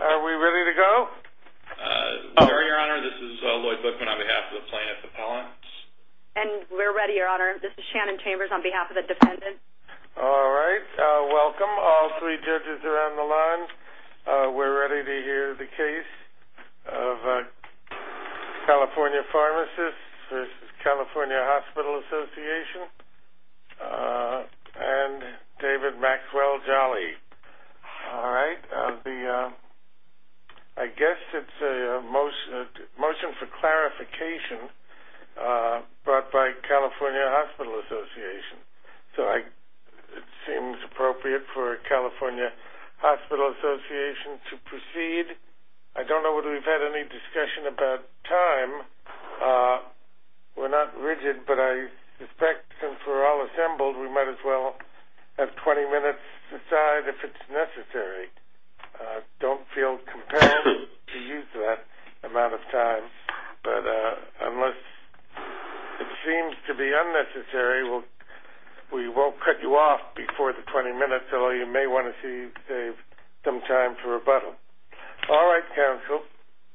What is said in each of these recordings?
Are we ready to go? We are your honor. This is Lloyd Bookman on behalf of the plaintiff's appellants. And we're ready your honor. This is Shannon Chambers on behalf of the defendant. All right. Welcome all three judges around the line. We're ready to hear the case of California Pharmacists California Hospital Association and David Maxwell-Jolly. All right. I guess it's a motion for clarification brought by California Hospital Association. So it seems appropriate for California Hospital Association to proceed. I don't know whether we've had any discussion about time. We're not rigid but I suspect since we're all assembled we might as well have 20 minutes to decide if it's necessary. Don't feel compelled to use that amount of time. But unless it seems to be unnecessary we won't cut you off before the 20 minutes. Although you may want to save some time for rebuttal. All right counsel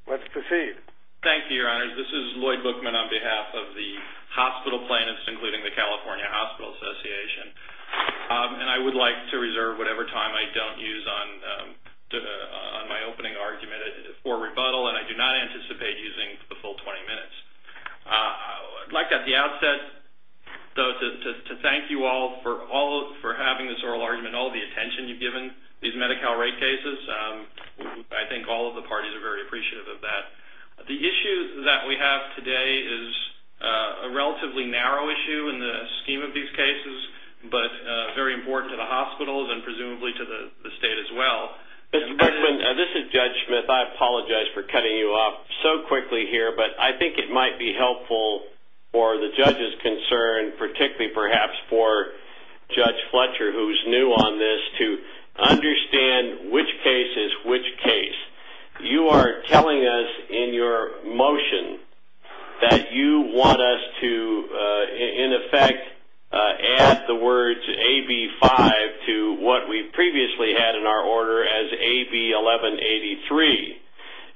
let's proceed. Thank you your honor. This is Lloyd Bookman on behalf of the hospital plaintiffs including the California Hospital Association. And I would like to reserve whatever time I don't use on my opening argument for rebuttal. And I do not anticipate using the full 20 minutes. I'd like at the outset though to thank you all for all for having this oral argument. All the attention you've given these Medi-Cal rate cases. I think all of the parties are very appreciative of that. The issue that we have today is a relatively narrow issue in the scheme of these cases. But very important to the hospitals and presumably to the state as well. Mr. Bookman this is Judge Smith. I apologize for cutting you off so quickly here. But I think it might be helpful for the judge's concern particularly perhaps for Judge Fletcher who's new on this to understand which case is which case. You are telling us in your motion that you want us to in effect add the words AB 5 to what we previously had in our order as AB 1183.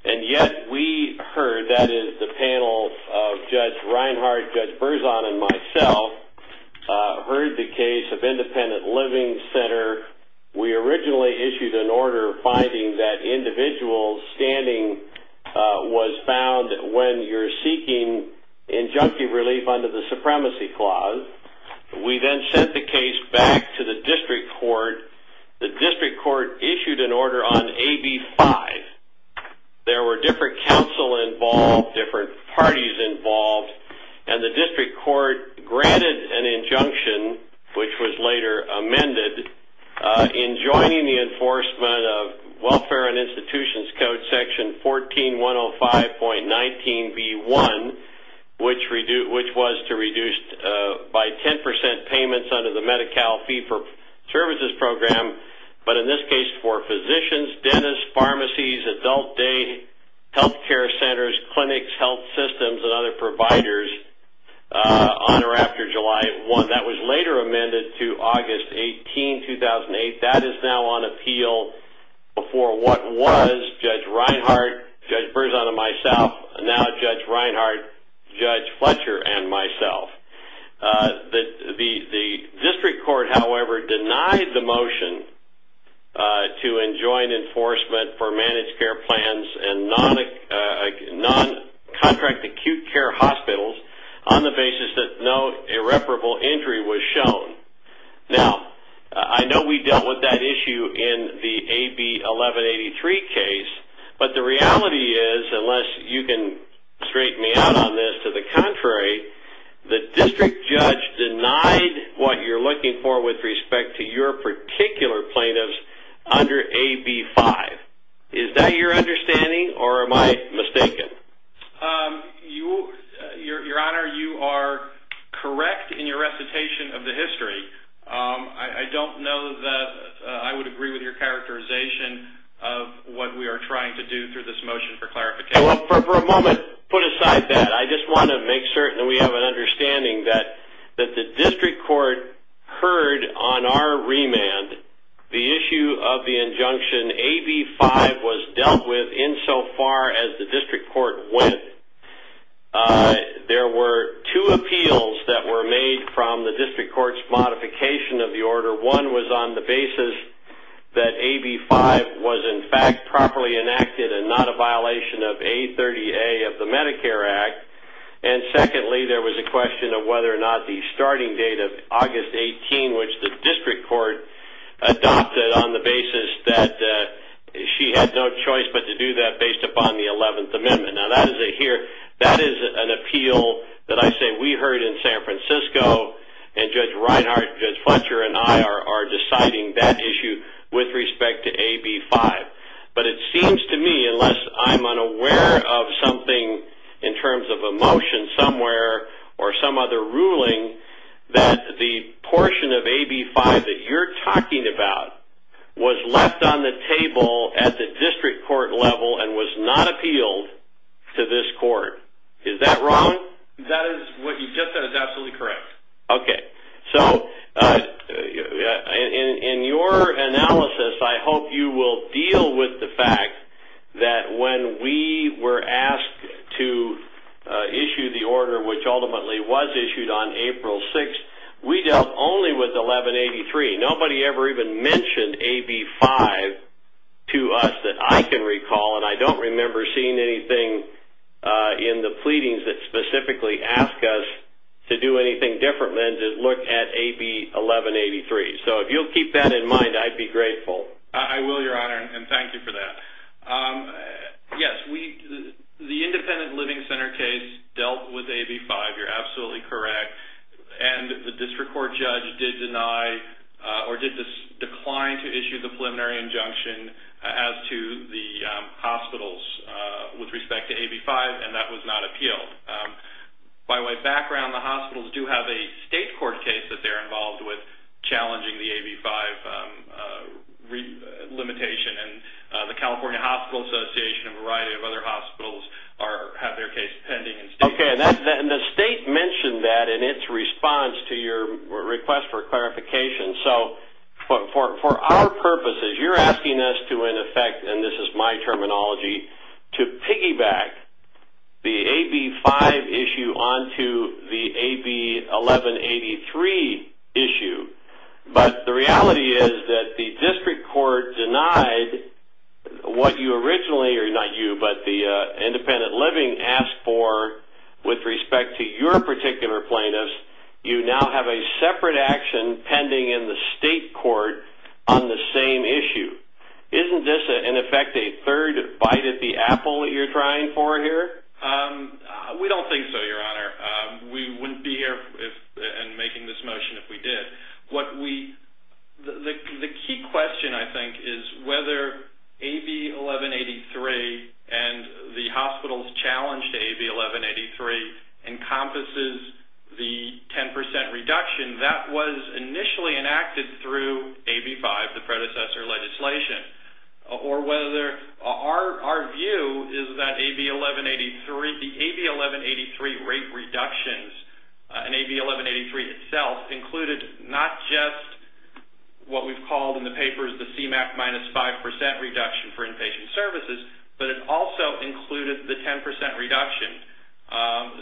And yet we heard that is the panel of Judge Reinhart, Judge Berzon and myself heard the case of Independent Living Center. We originally issued an order finding that individual standing was found when you're seeking injunctive relief under the Supremacy Clause. We then sent the case back to the district court. The district court issued an order on AB 5. There were different counsel involved, different parties involved. And the district court granted an injunction which was later amended in joining the enforcement of Welfare and Institutions Code section 14105.19B1 which was to reduce by 10% payments under the Medi-Cal fee for services program. But in this case for physicians, dentists, pharmacies, adult day health care centers, clinics, health systems and other providers on or after July 1. That was later amended to August 18, 2008. That is now on appeal before what was Judge Reinhart, Judge Berzon and myself, now Judge Reinhart, Judge Fletcher and myself. The district court however denied the requirement for managed care plans and non-contract acute care hospitals on the basis that no irreparable injury was shown. Now I know we dealt with that issue in the AB 1183 case. But the reality is, unless you can straighten me out on this, to the contrary, the district judge denied what you're looking for with respect to your particular plaintiffs under AB 5. Is that your understanding or am I mistaken? Your Honor, you are correct in your recitation of the history. I don't know that I would agree with your characterization of what we are trying to do through this motion for clarification. For a moment, put aside that. I just want to make certain that we have an agreement. On our remand, the issue of the injunction AB 5 was dealt with insofar as the district court went. There were two appeals that were made from the district court's modification of the order. One was on the basis that AB 5 was in fact properly enacted and not a violation of A30A of the Medicare Act. And secondly, there was a question of whether or not the starting date of the district court adopted on the basis that she had no choice but to do that based upon the 11th Amendment. Now, that is an appeal that I say we heard in San Francisco, and Judge Reinhart, Judge Fletcher, and I are deciding that issue with respect to AB 5. But it seems to me, unless I'm unaware of something in some other ruling, that the portion of AB 5 that you're talking about was left on the table at the district court level and was not appealed to this court. Is that wrong? That is what you just said is absolutely correct. Okay. So, in your analysis, I hope you will deal with the fact that when we were issued on April 6th, we dealt only with 1183. Nobody ever even mentioned AB 5 to us that I can recall, and I don't remember seeing anything in the pleadings that specifically asked us to do anything different than to look at AB 1183. So, if you'll keep that in mind, I'd be grateful. I will, Your Honor, and thank you for that. Yes, the Independent Living Center case dealt with AB 5. You're absolutely correct, and the district court judge did deny or did decline to issue the preliminary injunction as to the hospitals with respect to AB 5, and that was not appealed. By way of background, the hospitals do have a state court case that they're involved with challenging the AB 5 limitation, and the California Hospital Association and a variety of other independent and state courts. Okay, and the state mentioned that in its response to your request for clarification. So, for our purposes, you're asking us to, in effect, and this is my terminology, to piggyback the AB 5 issue onto the AB 1183 issue, but the reality is that the district court denied what you originally, or not you, but the Independent Living asked for with respect to your particular plaintiffs. You now have a separate action pending in the state court on the same issue. Isn't this, in effect, a third bite at the apple that you're trying for here? We don't think so, Your Honor. We wouldn't be here and making this motion if we did. The key question, I think, is whether AB 1183 and the hospitals' challenge to AB 1183 encompasses the 10 percent reduction that was initially enacted through AB 5, the predecessor legislation, or whether our view is that the AB 1183 rate reductions and AB 1183 itself included not just what we've called in the papers the CMAQ minus 5 percent reduction for inpatient services, but it also included the 10 percent reduction.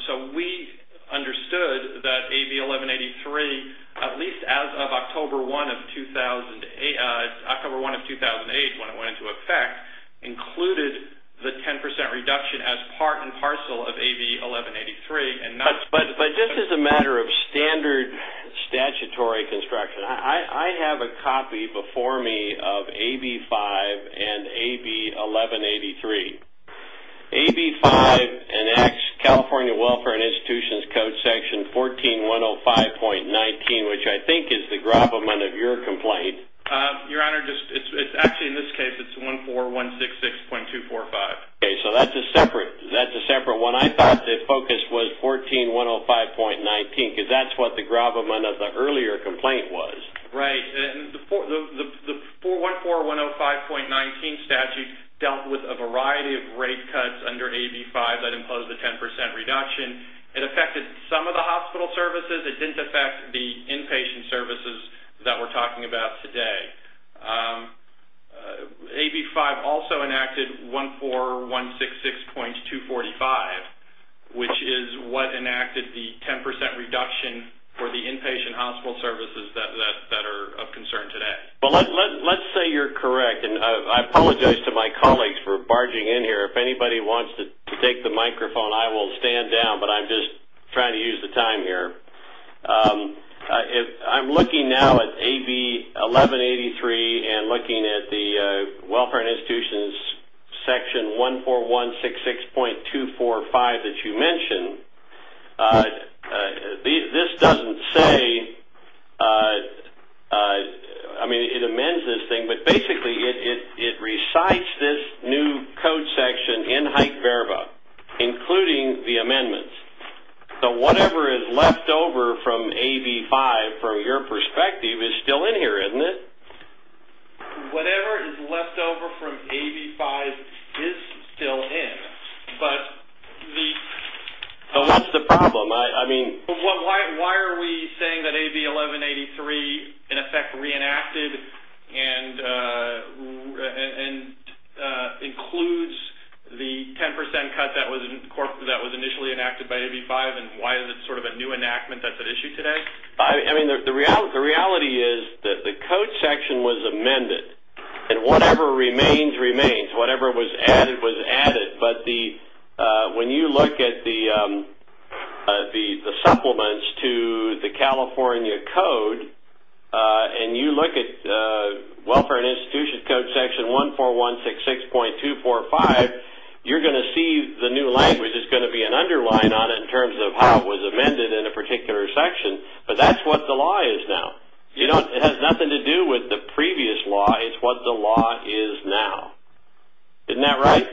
So, we understood that AB 1183, at least as of October 1 of 2008, when it went into effect, included the 10 percent reduction as part and parcel of AB 1183. But just as a matter of standard statutory construction, I have a copy before me of AB 5 and AB 1183. AB 5 enacts California Welfare and Institutions Code section 14105.19, which I think is the gravamen of your complaint. Your Honor, actually, in this case, it's 14166.245. Okay. So, that's a separate one. I thought the focus was 14105.19, because that's what the gravamen of the earlier complaint was. Right. The 14105.19 statute dealt with a variety of rate cuts under AB 5 that imposed the 10 percent reduction. It affected some of the hospital services. It didn't affect the inpatient services that we're talking about today. AB 5 also enacted 14166.245, which is what enacted the 10 percent reduction for the inpatient hospital services that are of concern today. Well, let's say you're correct, and I apologize to my colleagues for barging in here. If anybody wants to take the microphone, I will stand down, but I'm just trying to use the time here. I'm looking now at AB 1183 and looking at the Welfare and Institutions Section 14166.245 that you mentioned. This doesn't say, I mean, it amends this thing, but basically it recites this new code in Hike-Verba, including the amendments. Whatever is left over from AB 5, from your perspective, is still in here, isn't it? Whatever is left over from AB 5 is still in. What's the problem? Why are we saying that AB 1183, in effect, reenacted and includes the 10 percent cut that was initially enacted by AB 5, and why is it sort of a new enactment that's at issue today? The reality is that the code section was amended, and whatever remains remains. Whatever was added was added, but when you look at the Welfare and Institutions Section 14166.245, you're going to see the new language is going to be an underline on it in terms of how it was amended in a particular section, but that's what the law is now. It has nothing to do with the previous law. It's what the law is now. Isn't that right?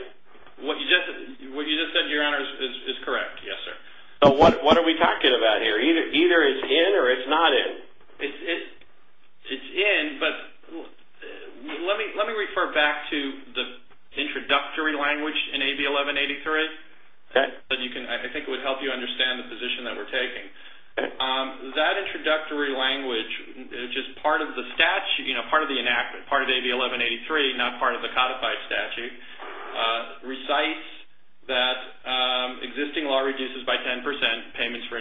What you just said, Your Honor, is correct. Yes, sir. What are we talking about here? Either it's in or it's not in. It's in, but let me refer back to the introductory language in AB 1183. I think it would help you understand the position that we're taking. That introductory language, just part of the statute, part of the enactment, part of AB 1183, not part of the codified statute, recites that existing law reduces by 10 percent payments for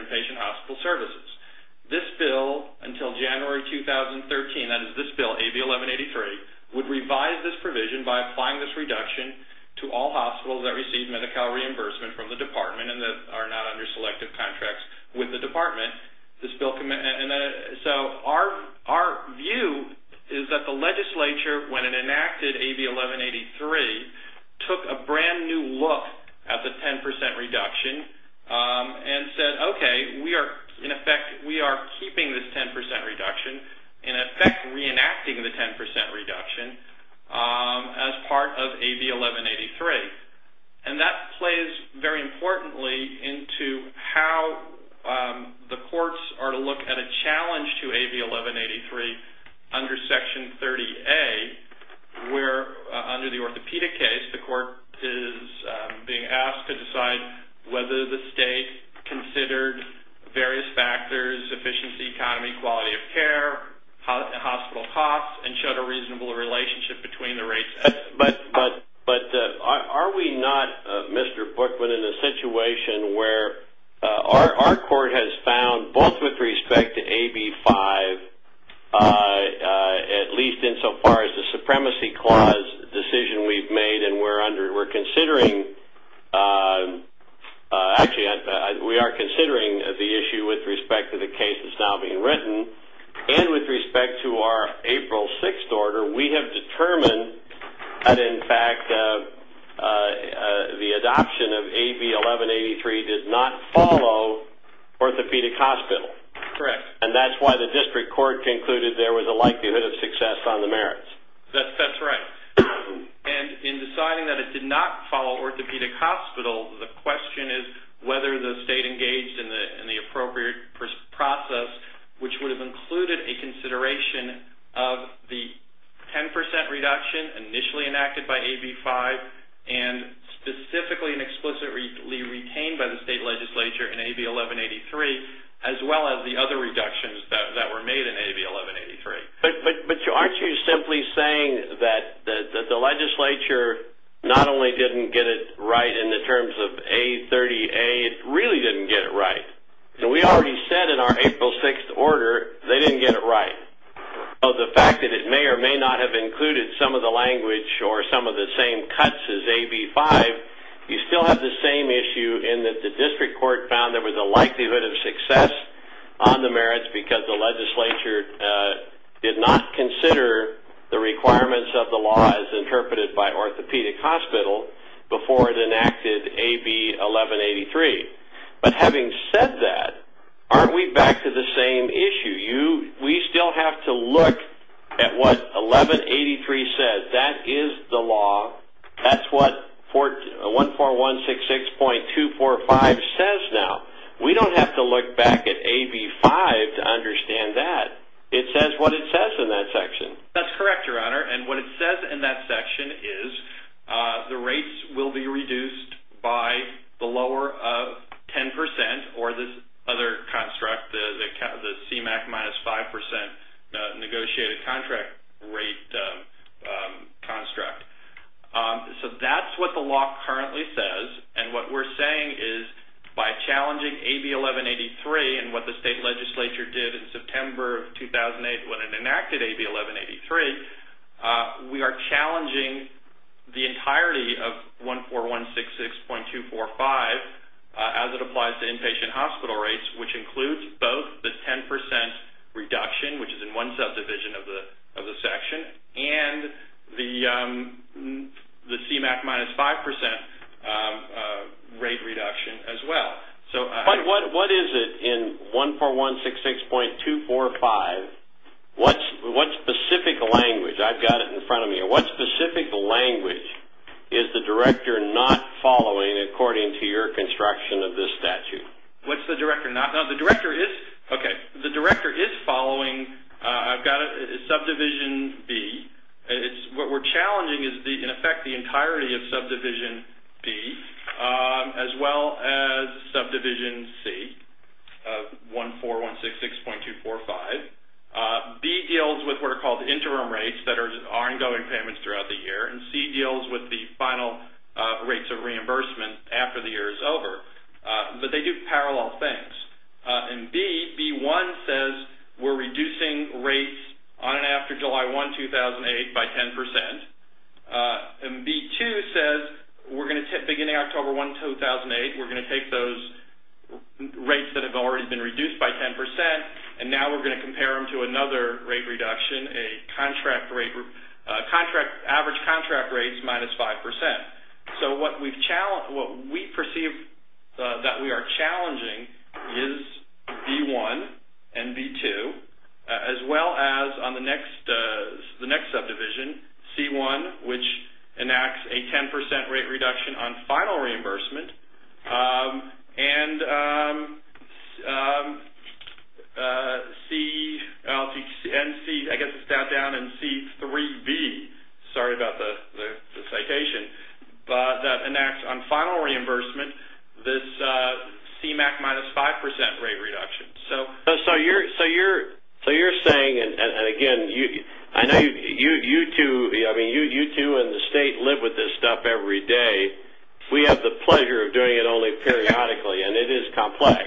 until January 2013, that is this bill, AB 1183, would revise this provision by applying this reduction to all hospitals that receive Medi-Cal reimbursement from the department and that are not under selective contracts with the department. Our view is that the legislature, when it enacted AB 1183, took a brand new look at the 10 percent reduction and said, okay, we are, in effect, we are keeping this 10 percent reduction, in effect, reenacting the 10 percent reduction as part of AB 1183. That plays very importantly into how the courts are to look at a challenge to AB 1183 under Section 30A, where under the orthopedic case, the court is being asked to reduce efficiency, economy, quality of care, hospital costs, and show a reasonable relationship between the rates. But are we not, Mr. Bookman, in a situation where our court has found, both with respect to AB 5, at least insofar as the supremacy clause decision we've made, and we're considering, actually, we are considering the issue with respect to the case that's now being written, and with respect to our April 6th order, we have determined that, in fact, the adoption of AB 1183 did not follow orthopedic hospitals. Correct. And that's why the district court concluded there was a likelihood of success on the merits. That's right. And in deciding that it did not follow orthopedic hospitals, the question is whether the state engaged in the appropriate process, which would have included a consideration of the 10 percent reduction initially enacted by AB 5, and specifically and explicitly retained by the state legislature in AB 1183, as well as the other reductions that were made in AB 1183. But aren't you simply saying that the legislature not only didn't get it right in the terms of A30A, it really didn't get it right? We already said in our April 6th order they didn't get it right. The fact that it may or may not have included some of the language or some of the same cuts as AB 5, you still have the same issue in that the district court found there was a did not consider the requirements of the law as interpreted by orthopedic hospital before it enacted AB 1183. But having said that, aren't we back to the same issue? We still have to look at what 1183 says. That is the law. That's what 14166.245 says now. We don't have to look back at AB 5 to understand that. It says what it says in that section. That's correct, Your Honor. What it says in that section is the rates will be reduced by the lower of 10 percent or this other construct, the CMAQ minus 5 percent negotiated contract rate construct. So that's what the law currently says. And what we're saying is by challenging AB 1183 and what the state legislature did in September of 2008 when it enacted AB 1183, we are challenging the entirety of 14166.245 as it applies to inpatient hospital rates, which includes both the 10 percent reduction, which is in one subdivision of the section, and the CMAQ minus 5 percent rate reduction as well. But what is it in 14166.245? What specific language? I've got it in front of me here. What specific language is the director not following according to your instruction of this statute? What's the director not... No, the director is... Okay. The director is following... I've got it in subdivision B. What we're challenging is in effect the entirety of subdivision B as well as subdivision C of 14166.245. B deals with what are called interim rates that are ongoing payments throughout the year, and C deals with the final rates of October. But they do parallel things. And B, B1 says we're reducing rates on and after July 1, 2008 by 10 percent. And B2 says we're going to... Beginning October 1, 2008, we're going to take those rates that have already been reduced by 10 percent, and now we're going to compare them to another rate reduction, a contract rate... average contract rates minus 5 percent. So what we've that we are challenging is B1 and B2 as well as on the next subdivision, C1, which enacts a 10 percent rate reduction on final reimbursement, and C... I guess it's down in C3B. Sorry about the this CMAQ minus 5 percent rate reduction. So you're saying, and again, I know you two in the state live with this stuff every day. We have the pleasure of doing it only periodically, and it is complex.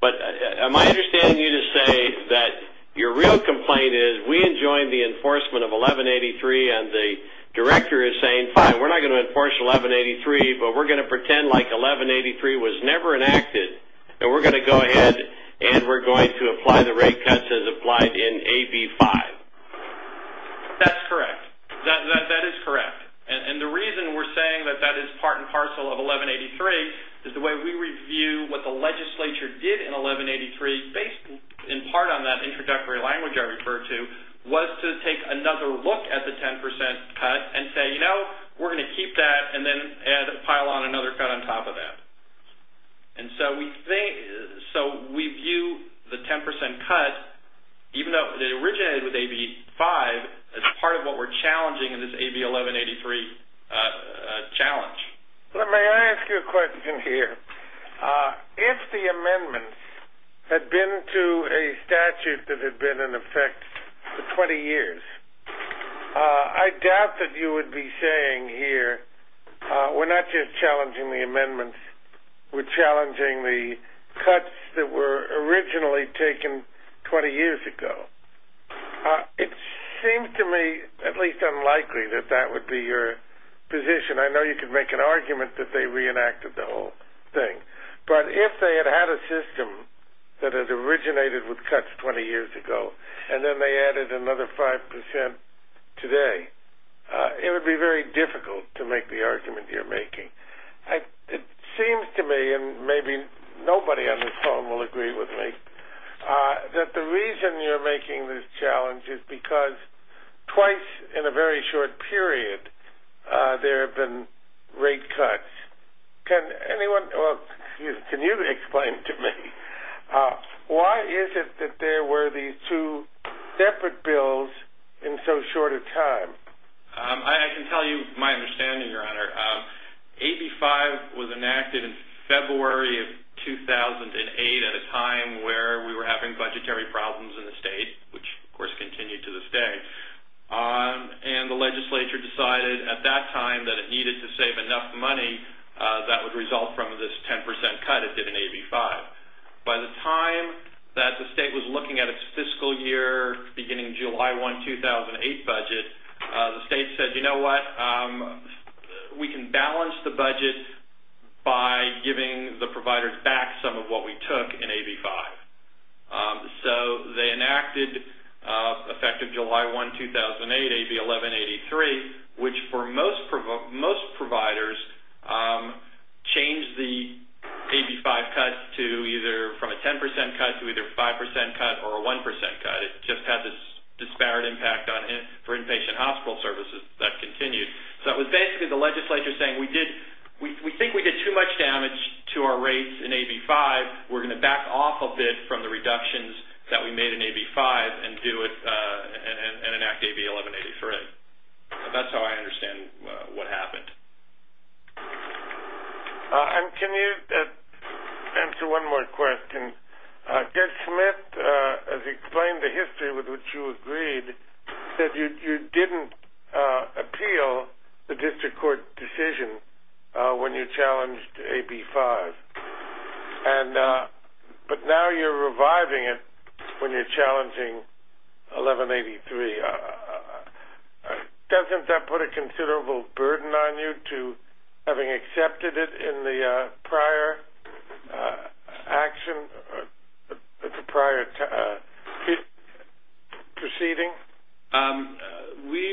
But am I understanding you to say that your real complaint is we enjoined the enforcement of 1183, and the director is saying, fine, we're not going to enforce 1183, but we're going to pretend like 1183 was never enacted, and we're going to go ahead and we're going to apply the rate cuts as applied in AB5? That's correct. That is correct. And the reason we're saying that that is part and parcel of 1183 is the way we review what the legislature did in 1183 based in part on that introductory language I referred to was to take another look at the 10 percent cut and say, you know, we're going to keep that and then pile on another cut on top of that. And so we view the 10 percent cut, even though it originated with AB5, as part of what we're challenging in this AB1183 challenge. May I ask you a question here? If the amendments had been to a statute that had been in effect for 20 years, I doubt that you would be saying here, we're not just challenging the amendments, we're challenging the cuts that were originally taken 20 years ago. It seems to me at least unlikely that that would be your position. I know you could make an argument that they reenacted the whole thing, but if they had had a system that had originated with cuts 20 years ago, and then they added another 5 percent today, it would be very difficult to make the argument you're making. It seems to me, and maybe nobody on this phone will agree with me, that the reason you're making this challenge is because twice in a very short period there have been rate cuts. Can you explain to me why is it that there were these two separate bills in so short a time? I can tell you my understanding, Your Honor. AB5 was enacted in February of 2008 at a time where we were having budgetary problems in the state, which of course to save enough money that would result from this 10 percent cut it did in AB5. By the time that the state was looking at its fiscal year beginning July 1, 2008 budget, the state said, you know what, we can balance the budget by giving the providers back some of what we took in AB5. So they enacted, effective July 1, 2008, AB1183, which for most providers changed the AB5 cut to either from a 10 percent cut to either a 5 percent cut or a 1 percent cut. It just had this disparate impact for inpatient hospital services that continued. So it was basically the legislature saying we think we did too much damage to our rates in AB5, we're going to back off a bit from the reductions that we made in AB5 and enact AB1183. That's how I understand what happened. And can you answer one more question? Judge Smith has explained the history with which you agreed that you didn't appeal the district court decision when you challenged AB5. And but now you're reviving it when you're challenging AB1183. Doesn't that put a considerable burden on you to having accepted it in the prior action, the prior proceeding? We,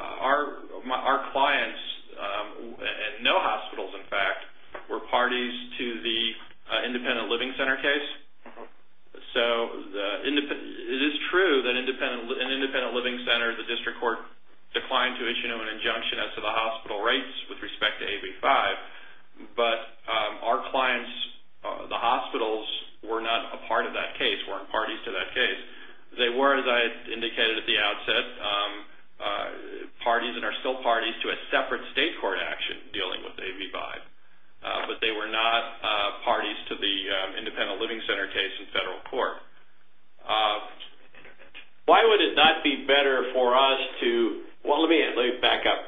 our clients, and no hospitals in fact, were parties to the independent living center case. So it is true that an independent living center, the district court declined to issue an injunction as to the hospital rates with respect to AB5. But our clients, the hospitals, were not a part of that case, weren't parties to that case. They were, as I indicated at the outset, parties and are still parties to a separate state court action dealing with AB5. But they were not parties to the independent living center case in federal court. Why would it not be better for us to, well let me back up,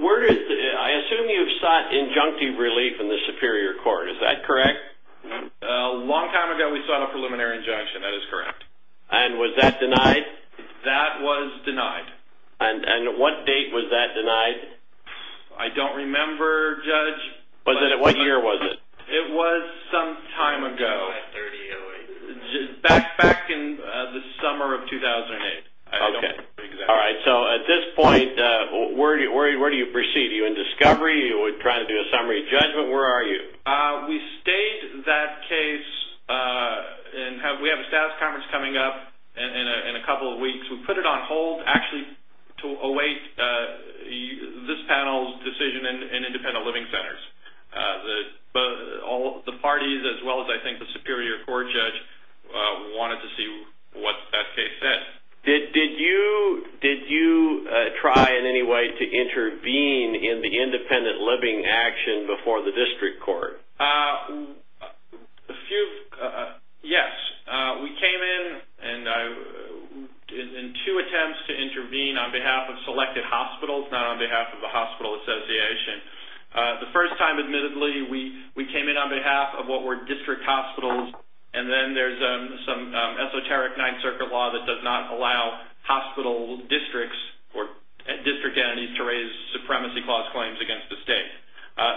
where did, I assume you've sought injunctive relief in the superior court, is that correct? A long time ago we sought a preliminary injunction, that is correct. And was that denied? That was denied. And what date was that denied? I don't remember, Judge. Was it, what year was it? It was some time ago, back in the summer. Judge, where are you? We stayed that case and we have a staff conference coming up in a couple of weeks. We put it on hold actually to await this panel's decision in independent living centers. The parties as well as I think the superior court judge wanted to see what that case did. Did you try in any way to intervene in the independent living action before the district court? A few, yes. We came in and I, in two attempts to intervene on behalf of selected hospitals, not on behalf of the hospital association. The first time admittedly we came in on behalf of what were district hospitals and then there's some esoteric 9th Circuit law that does not allow hospital districts or district entities to raise supremacy clause claims against the state.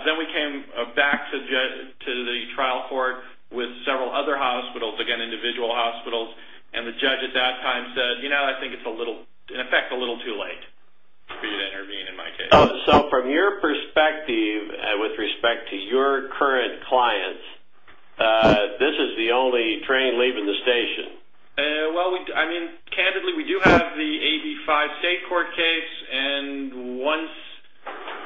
Then we came back to the trial court with several other hospitals, again individual hospitals, and the judge at that time said, you know, I think it's in effect a little too late for you to intervene in my case. So from your perspective with respect to your current clients, this is the only train leaving the station? Well, I mean, candidly we do have the 85 state court case and once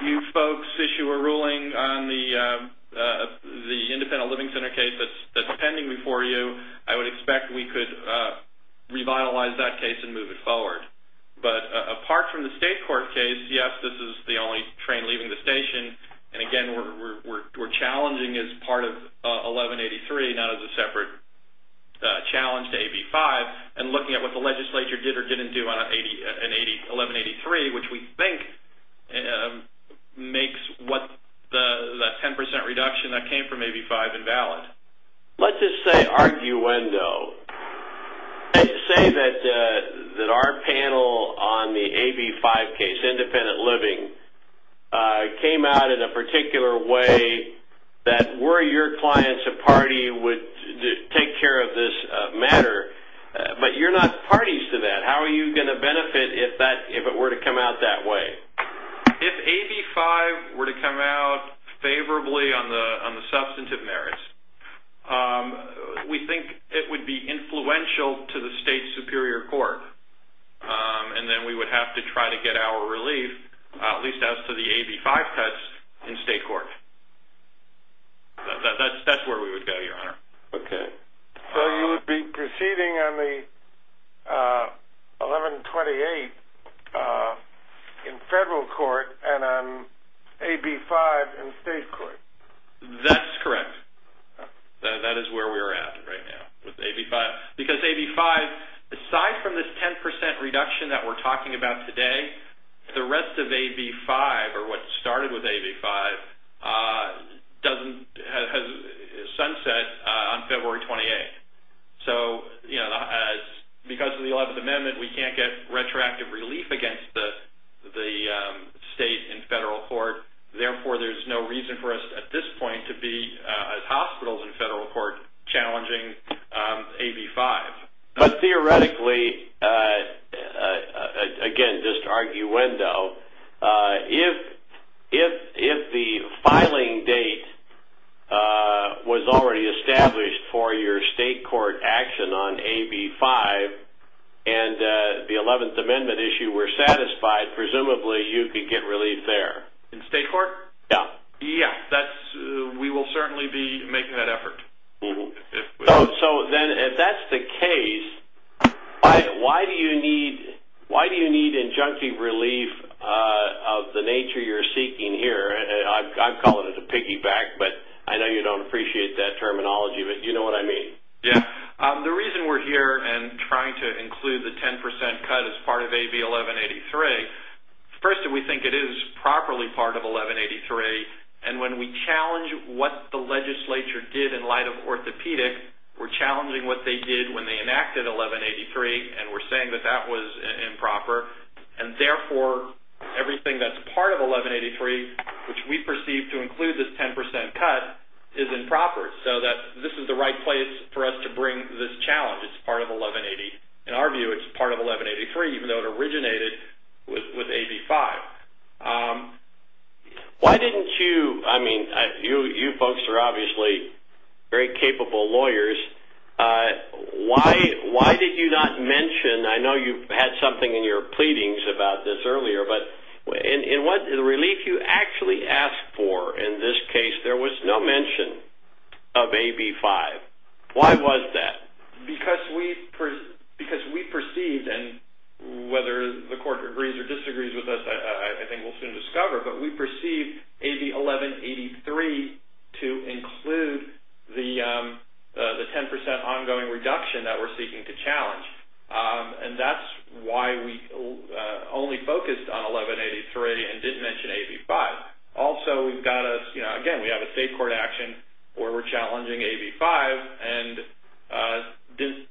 you folks issue a ruling on the independent living center case that's pending before you, I would expect we could revitalize that case and move it forward. But apart from the state court case, yes, this is the only challenging as part of 1183, not as a separate challenge to AB5 and looking at what the legislature did or didn't do on 1183, which we think makes what the 10% reduction that came from AB5 invalid. Let's just say arguendo. Say that our panel on the AB5 case, independent living, came out in a particular way that were your clients a party would take care of this matter, but you're not parties to that. How are you going to benefit if it were to come out that way? If AB5 were to come out favorably on the substantive merits, we think it would be influential to the state superior court and then we would have to try to get our relief at least as to the AB5 cuts in state court. That's where we would go, your honor. Okay. So you would be proceeding on the 1128 in federal court and on AB5 in state court? That's correct. That is where we are at right now with AB5 because AB5, aside from this 10% reduction that we're talking about today, the rest of AB5 or what started with AB5 sunset on February 28th. Because of the 11th Amendment, we can't get retroactive relief against the state and federal court. Therefore, there's no reason for us at this point to be hospitals in federal court challenging AB5. But theoretically, again, just arguendo, if the filing date was already established for your state court action on AB5 and the 11th Amendment issue were satisfied, presumably you could get relief there. In state court? Yeah. Yeah. We will certainly be making that effort. So then if that's the case, why do you need injunctive relief of the nature you're seeking here? I'm calling it the piggyback, but I know you don't appreciate that terminology, but you know what I mean. Yeah. The reason we're here and trying to include the 10% cut as part of AB1183, first, we think it is properly part of AB1183. When we challenge what the legislature did in light of orthopedic, we're challenging what they did when they enacted AB1183, and we're saying that that was improper. Therefore, everything that's part of AB1183, which we perceive to include this 10% cut, is improper. This is the right place for us to bring this challenge. It's in our view, it's part of AB1183, even though it originated with AB5. Why didn't you... I mean, you folks are obviously very capable lawyers. Why did you not mention... I know you had something in your pleadings about this earlier, but in what relief you actually asked for in this case, there was no mention of AB5. Why was that? Because we perceived, and whether the court agrees or disagrees with us, I think we'll soon discover, but we perceived AB1183 to include the 10% ongoing reduction that we're seeking to challenge. That's why we only focused on 1183 and didn't mention AB5. Also, we've got a... Again, where we're challenging AB5, and didn't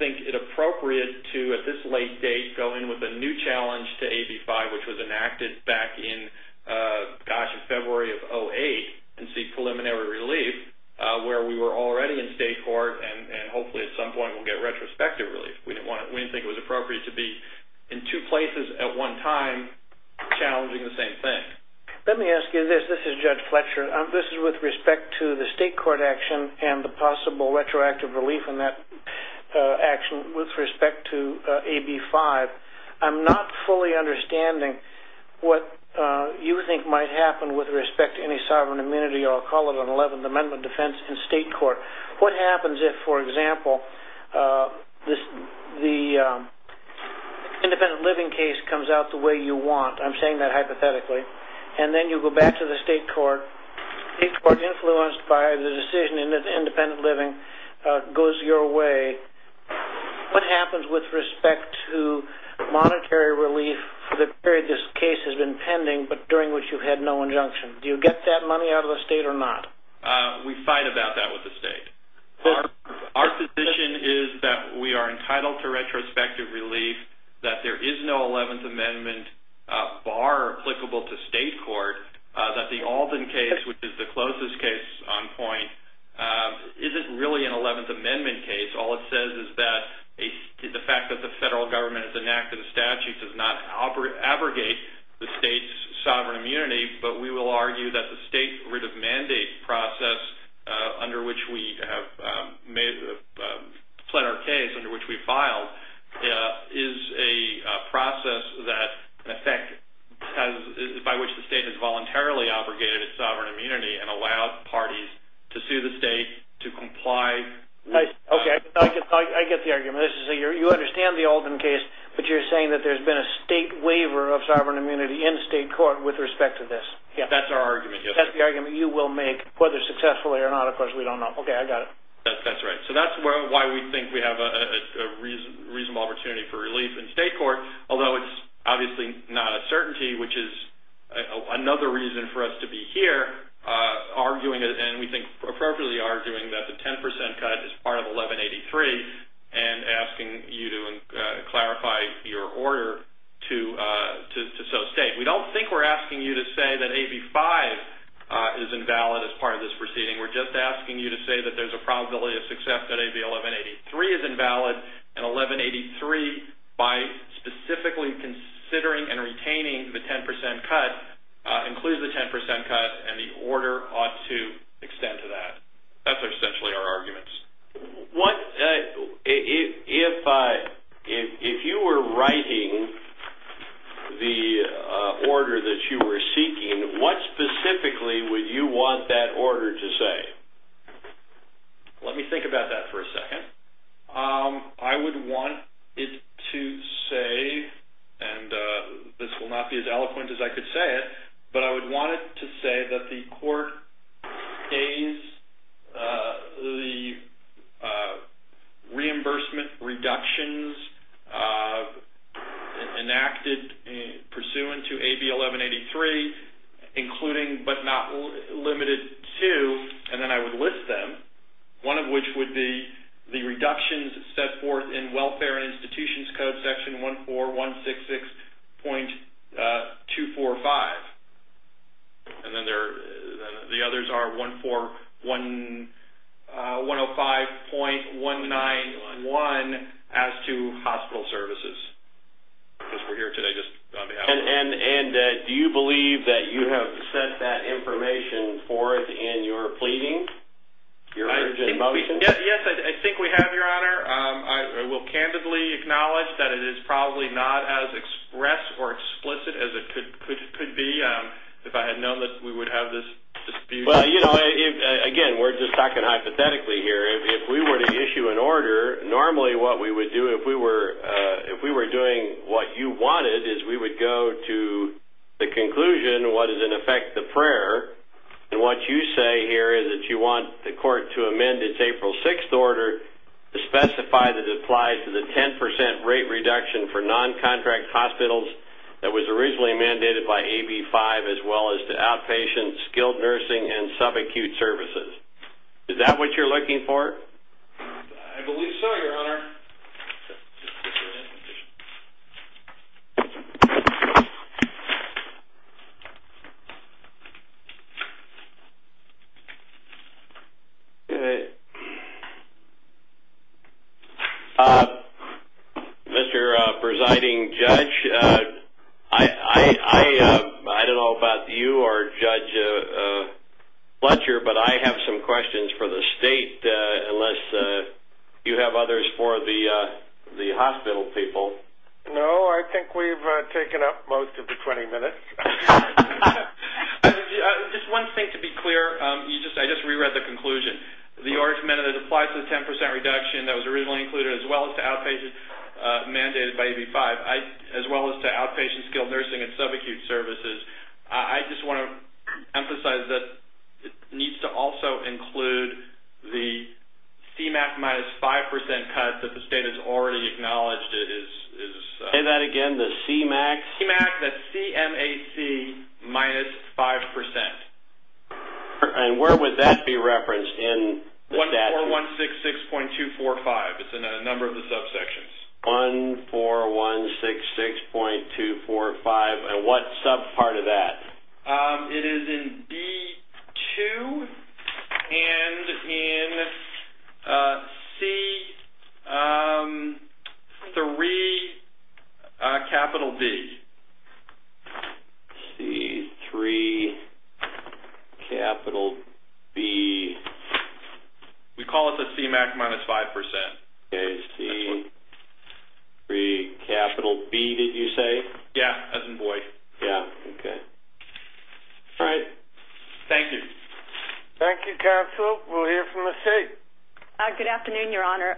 think it appropriate to, at this late date, go in with a new challenge to AB5, which was enacted back in, gosh, in February of 08, and seek preliminary relief, where we were already in state court, and hopefully at some point, we'll get retrospective relief. We didn't think it was appropriate to be in two places at one time, challenging the same thing. Let me ask you this. This is Judge Fletcher. This is with respect to the state court action and the possible retroactive relief in that action with respect to AB5. I'm not fully understanding what you think might happen with respect to any sovereign immunity, or I'll call it an 11th Amendment defense in state court. What happens if, for example, the independent living case comes out the way you want? I'm back to the state court. State court influenced by the decision in the independent living goes your way. What happens with respect to monetary relief for the period this case has been pending, but during which you had no injunction? Do you get that money out of the state or not? We fight about that with the state. Our position is that we are entitled to retrospective relief, that there is no 11th Amendment bar applicable to state court, that the Alden case, which is the closest case on point, isn't really an 11th Amendment case. All it says is that the fact that the federal government has enacted a statute does not abrogate the state's sovereign immunity, but we will argue that the state writ of mandate process under which we have fled our case, under which we filed, is a process that, in effect, by which the state has voluntarily abrogated its sovereign immunity and allowed parties to sue the state to comply. I get the argument. You understand the Alden case, but you're saying that there's been a state waiver of sovereign immunity in state court with respect to this. That's our argument. That's the argument you will make, whether successfully or not. Of course, we don't know. I got it. That's right. That's why we think we have a reasonable opportunity for relief in state court, although it's obviously not a certainty, which is another reason for us to be here, arguing, and we think appropriately arguing, that the 10% cut is part of 1183 and asking you to clarify your order to so state. We don't think we're asking you to say that AB5 is invalid as part of this proceeding. We're just asking you to say that there's a probability of success that AB1183 is invalid and 1183, by specifically considering and retaining the 10% cut, includes the 10% cut and the order ought to extend to that. That's essentially our arguments. If you were writing the order that you were seeking, what specifically would you want that order to say? Let me think about that for a second. I would want it to say, and this will not be as eloquent as I could say it, but I would want it to say that the court pays the reimbursement reductions enacted pursuant to AB1183, including but not limited to, and then I would list them, one of which would be the reductions set forth in Welfare and Institutions Code section 14166.245. And then the others are 105.191 as to Hospital Services. And do you believe that you have set that information forth in your pleading? Yes, I think we have, Your Honor. I will candidly acknowledge that it is probably not as expressed or explicit as it could be if I had known that we would have this dispute. Again, we're just talking hypothetically here. If we were to issue an order, normally what we would do if we were doing what you wanted is we would go to the conclusion, what is in effect the prayer, and what you say here is that you want the court to amend its contract to one contract hospitals that was originally mandated by AB5, as well as to outpatient skilled nursing and subacute services. Is that what you're looking for? I believe so, Your Honor. Mr. Presiding Judge, I don't know about you or Judge Fletcher, but I have some questions for the State, unless you have others for the hospital people. No, I think we've taken up most of the 20 minutes. Just one thing to be clear, I just reread the conclusion. The argument that it applies to the 10 percent reduction that was originally included, as well as to outpatient mandated by AB5, as well as to outpatient skilled nursing and subacute services, I just want to emphasize that needs to also include the CMAC minus 5 percent cut that the State has already acknowledged. Say that again, the CMAC? CMAC, that's C-M-A-C minus 5 percent. Where would that be referenced in the statute? 14166.245, it's in a number of the subsections. 14166.245, and what sub part of that? It is in B-2 and in C-3 capital B. C-3 capital B. We call it the CMAC minus 5 percent. Okay, C-3 capital B, did you say? Yeah, as in boy. Yeah, okay. All right, thank you. Thank you, Counsel. We'll hear from the State. Good afternoon, Your Honor.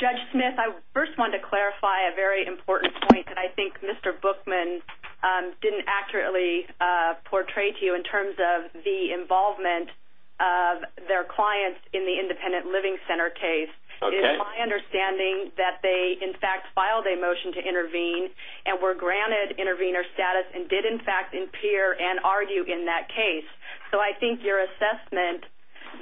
Judge Smith, I first wanted to clarify a very important point that I think Mr. Bookman didn't accurately portray to you in terms of the involvement of their clients in the independent living center case. It is my understanding that they, in fact, filed a motion to intervene and were granted intervener status and did, in fact, appear and argue in that case, so I think your assessment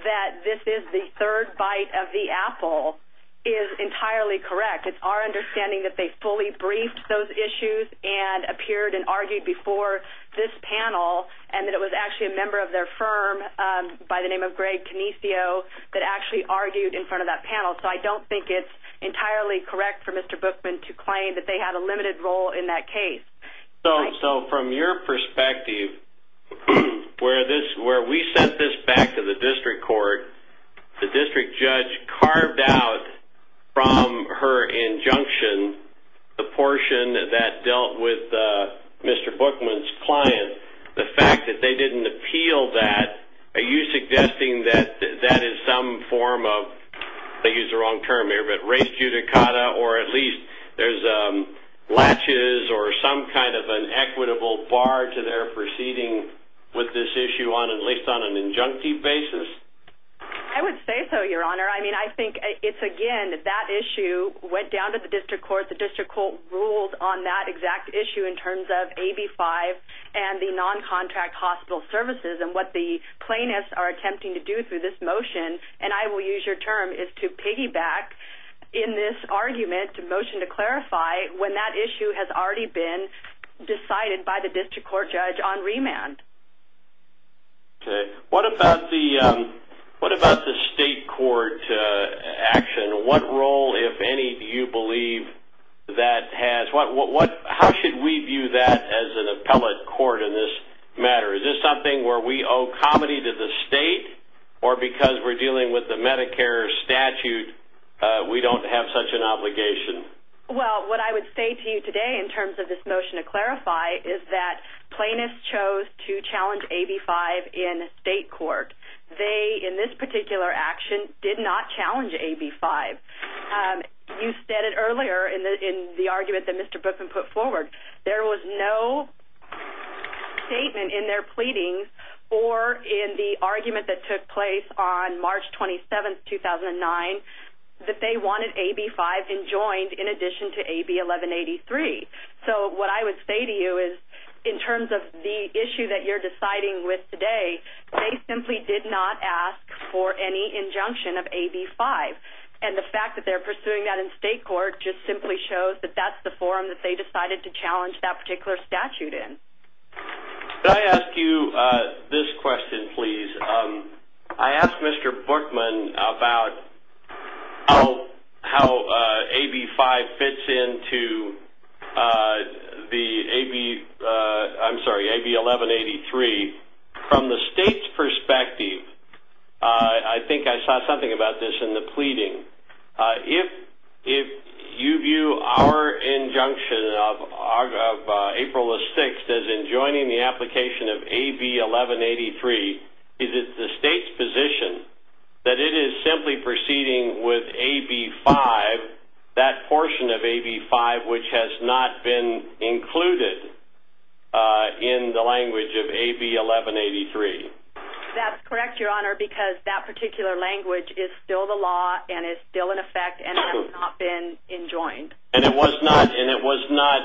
that this is the third bite of the apple is entirely correct. It's our understanding that they fully briefed those issues and appeared and argued before this panel and that it was actually a member of their firm by the name of Greg Canicio that actually argued in front of that panel, so I don't think it's entirely correct for Mr. Bookman to be claiming that they had a limited role in that case. So, from your perspective, where we sent this back to the district court, the district judge carved out from her injunction the portion that dealt with Mr. Bookman's client, the fact that they didn't appeal that, are you suggesting that that is some form of, I think it's the wrong term here, but or at least there's latches or some kind of an equitable bar to their proceeding with this issue on at least on an injunctive basis? I would say so, your honor. I mean, I think it's, again, that issue went down to the district court. The district court ruled on that exact issue in terms of AB 5 and the non-contract hospital services and what the plaintiffs are attempting to do through this motion, and I will use your term, is to piggyback in this argument to motion to clarify when that issue has already been decided by the district court judge on remand. Okay. What about the state court action? What role, if any, do you believe that has? How should we view that as an appellate court in this matter? Is this something where we because we're dealing with the Medicare statute, we don't have such an obligation? Well, what I would say to you today in terms of this motion to clarify is that plaintiffs chose to challenge AB 5 in state court. They, in this particular action, did not challenge AB 5. You said it earlier in the argument that Mr. Bookman put forward. There was no statement in their pleadings or in the argument that took place on March 27, 2009, that they wanted AB 5 enjoined in addition to AB 1183. So what I would say to you is in terms of the issue that you're deciding with today, they simply did not ask for any injunction of AB 5, and the fact that they're pursuing that in state court just simply shows that that's the forum that they decided to pursue. Let me ask you this question, please. I asked Mr. Bookman about how AB 5 fits into the AB, I'm sorry, AB 1183. From the state's perspective, I think I saw something about this in the pleading. If you view our injunction of April the 6th as enjoining the application of AB 1183, is it the state's position that it is simply proceeding with AB 5, that portion of AB 5 which has not been included in the language of AB 1183? That's correct, Your Honor, because that particular language is still the law and is still in effect and has not been enjoined. And it was not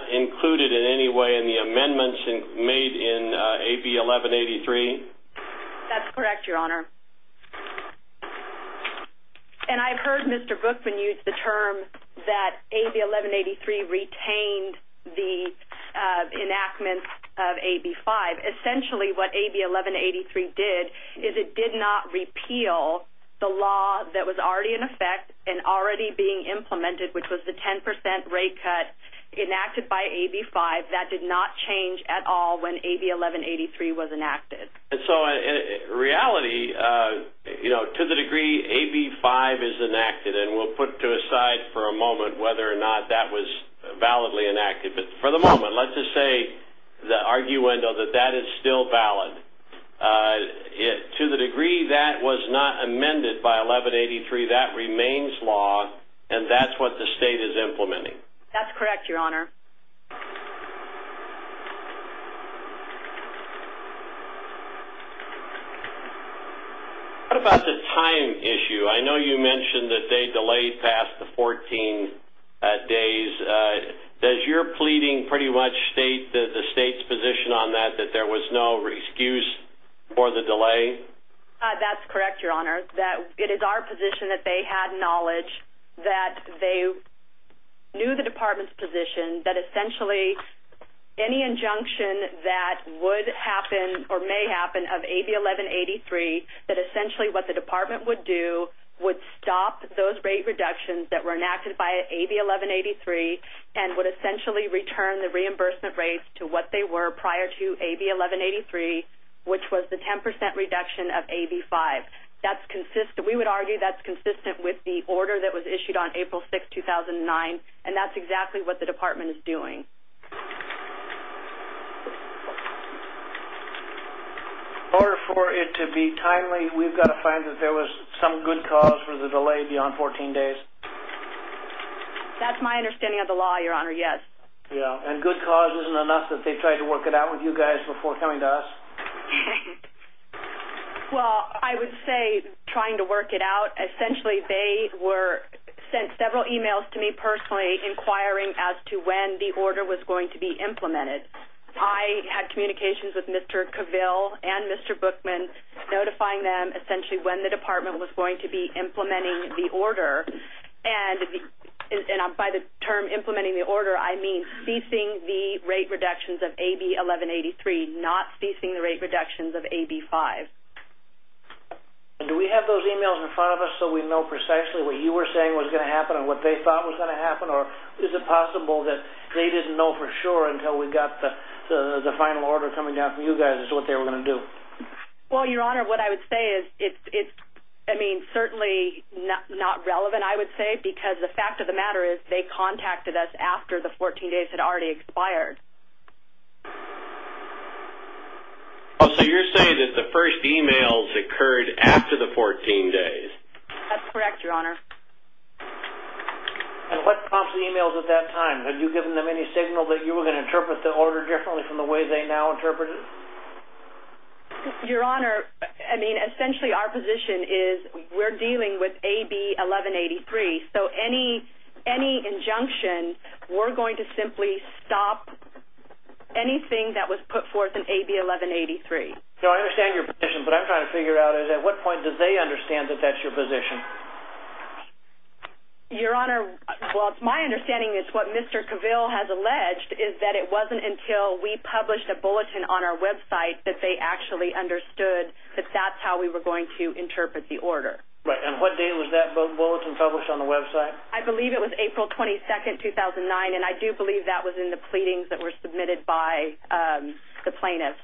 included in any way in the amendments made in AB 1183? That's correct, Your Honor. And I've heard Mr. Bookman use the term that AB 1183 retained the enactment of AB 5. Essentially what AB 1183 did is it did not repeal the law that was already in effect and already being implemented, which was the 10% rate cut enacted by AB 5. That did not change at all when AB 1183 was enacted. And so reality, to the degree AB 5 is enacted, and we'll put to the side for a moment whether or not that was validly enacted. But for the moment, let's just say the arguendo that that is still valid to the degree that was not amended by 1183, that remains law and that's what the state is implementing. That's correct, Your Honor. What about the time issue? I know you mentioned that they delayed past the 14 days. Does your pleading pretty much state that the state's position on that, that there was no excuse for the delay? That's correct, Your Honor. It is our position that they had knowledge that they knew the department's position that essentially any injunction that would happen or may happen of AB 1183, that essentially what the department would do would stop those rate reductions that were enacted by AB 1183 and would essentially return the reimbursement rates to what they were prior to AB 1183, which was the 10% reduction of AB 5. We would argue that's consistent with the order that was issued on April 6, 2009, and that's exactly what the department is doing. In order for it to be timely, we've got to find that there was some good cause for the delay beyond 14 days. That's my understanding of the law, Your Honor, yes. Yeah, and good cause isn't enough that they tried to work it out with you guys before coming to us? Well, I would say trying to work it out. Essentially, they were sent several emails to me personally inquiring as to when the order was going to be implemented. I had communications with Mr. Cavill and Mr. Bookman notifying them essentially when the department was going to be AB 1183, not ceasing the rate reductions of AB 5. Do we have those emails in front of us so we know precisely what you were saying was going to happen and what they thought was going to happen, or is it possible that they didn't know for sure until we got the final order coming down from you guys as to what they were going to do? Well, Your Honor, what I would say is it's, I mean, certainly not relevant, I would say, because the fact of the matter is they contacted us after the 14 days. So you're saying that the first emails occurred after the 14 days? That's correct, Your Honor. And what prompts the emails at that time? Have you given them any signal that you were going to interpret the order differently from the way they now interpret it? Your Honor, I mean, essentially our position is we're dealing with AB 1183, so any injunction, we're going to simply stop anything that was put forth in AB 1183. So I understand your position, but I'm trying to figure out is at what point did they understand that that's your position? Your Honor, well, it's my understanding is what Mr. Cavell has alleged is that it wasn't until we published a bulletin on our website that they actually understood that that's how we were going to interpret the order. Right, and what day was that bulletin published on the website? I believe it was April 22nd, 2009, and I do believe that was in the pleadings that were submitted by the plaintiffs.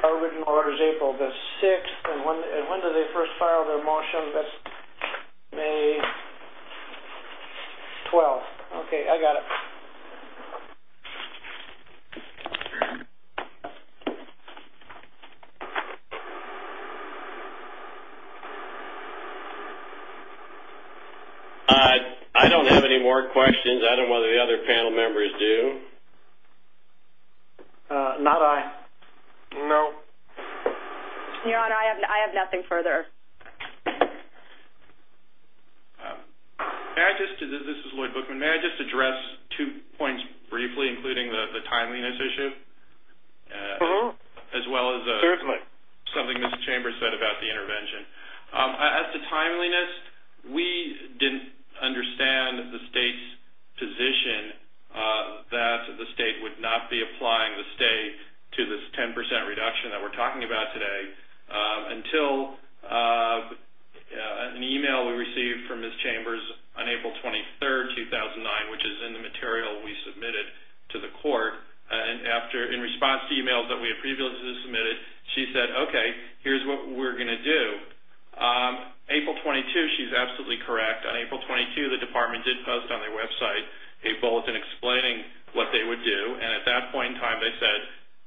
Our written order is April the 6th, and when did they first file their motion? That's May 12th. Okay, I got it. I don't have any more questions. I don't know whether the other panel members do. Not I. No. Your Honor, I have nothing further. This is Lloyd Bookman. May I just address two points briefly, including the timeliness issue, as well as something Ms. Chambers said about the intervention. As to timeliness, we didn't understand the state's position that the state would not be applying the stay to this 10% reduction that we're talking about today until an email we received from Ms. Chambers on April 23rd, 2009, which is in the material we submitted to the court. In response to emails that we had previously submitted, she said, okay, here's what we're going to do. April 22nd, she's absolutely correct. On April 22nd, the department did post on their website a bulletin explaining what they would do, and at that point in time, they said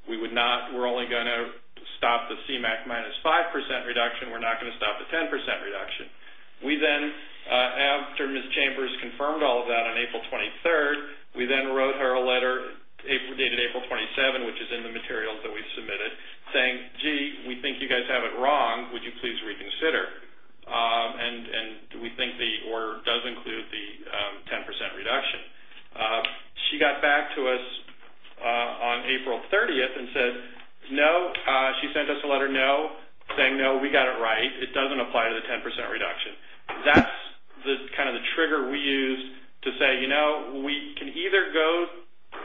we're only going to stop the CMAQ minus 5% reduction. We're not going to stop the 10% reduction. After Ms. Chambers confirmed all of that on April 23rd, we then wrote her a letter dated April 27th, which is in the material that we submitted, saying, gee, we think you guys have it wrong. Would you please reconsider? We think the order does include the 10% reduction. She got back to us on April 30th and said, no. She sent us a letter saying, no, we got it right. It doesn't apply to the 10% reduction. That's the trigger we use to say we can either go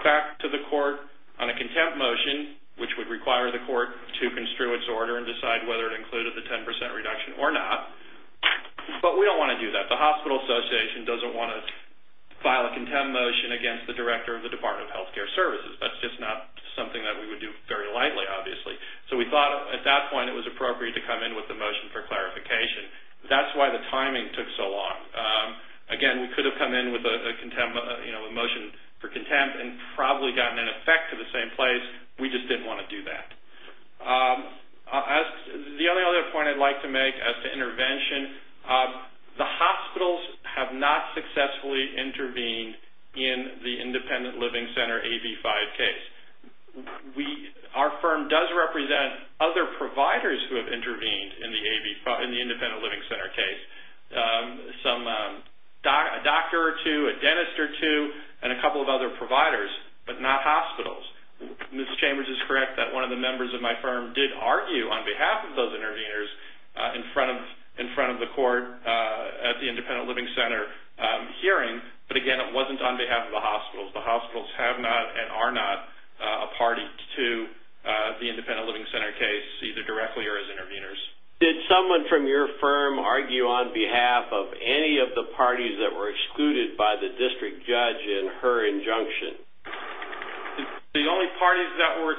back to the court on a contempt motion, which would require the court to construe its order and decide whether it included the 10% reduction or not, but we don't want to do that. The Hospital Association doesn't want to file a contempt motion against the director of the Department of Healthcare Services. That's not something that we would do very lightly, obviously. We thought at that point it was appropriate to come in with a motion for clarification. That's why the timing took so long. Again, we could have come in with a motion for contempt and probably gotten an effect to the same place. We just didn't want to do that. The other point I'd like to make as to intervention, the hospitals have not successfully intervened in the Independent Living Center AB-5 case. Our firm does represent other providers who have intervened in the Independent Living Center case, a doctor or two, a dentist or two, and a couple of other providers, but not hospitals. Ms. Chambers is correct that one of the members of my firm did argue on behalf of those interveners in front of the court at the Independent Living Center hearing, but again, it wasn't on behalf of the hospitals. The hospitals have not and are not a party to the Independent Living Center case, either directly or as interveners. Did someone from your firm argue on behalf of any of the parties that were excluded by the district judge in her injunction? The only parties that were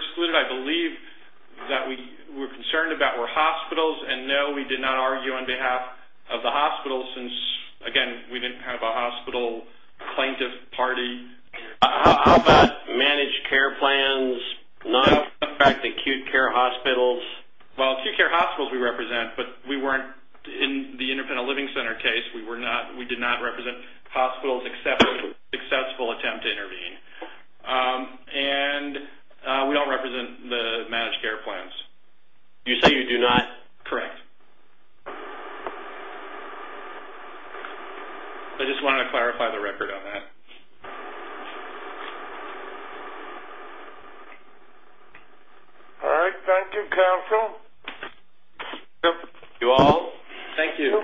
concerned about were hospitals, and no, we did not argue on behalf of the hospitals since, again, we didn't have a hospital plaintiff party. How about managed care plans, not affect acute care hospitals? Well, acute care hospitals we represent, but we weren't in the Independent Living Center case. We did not represent hospitals except for the successful attempt to intervene. And we don't represent the managed care plans. You say you do not? Correct. I just wanted to clarify the record on that. All right, thank you, counsel. You all, thank you.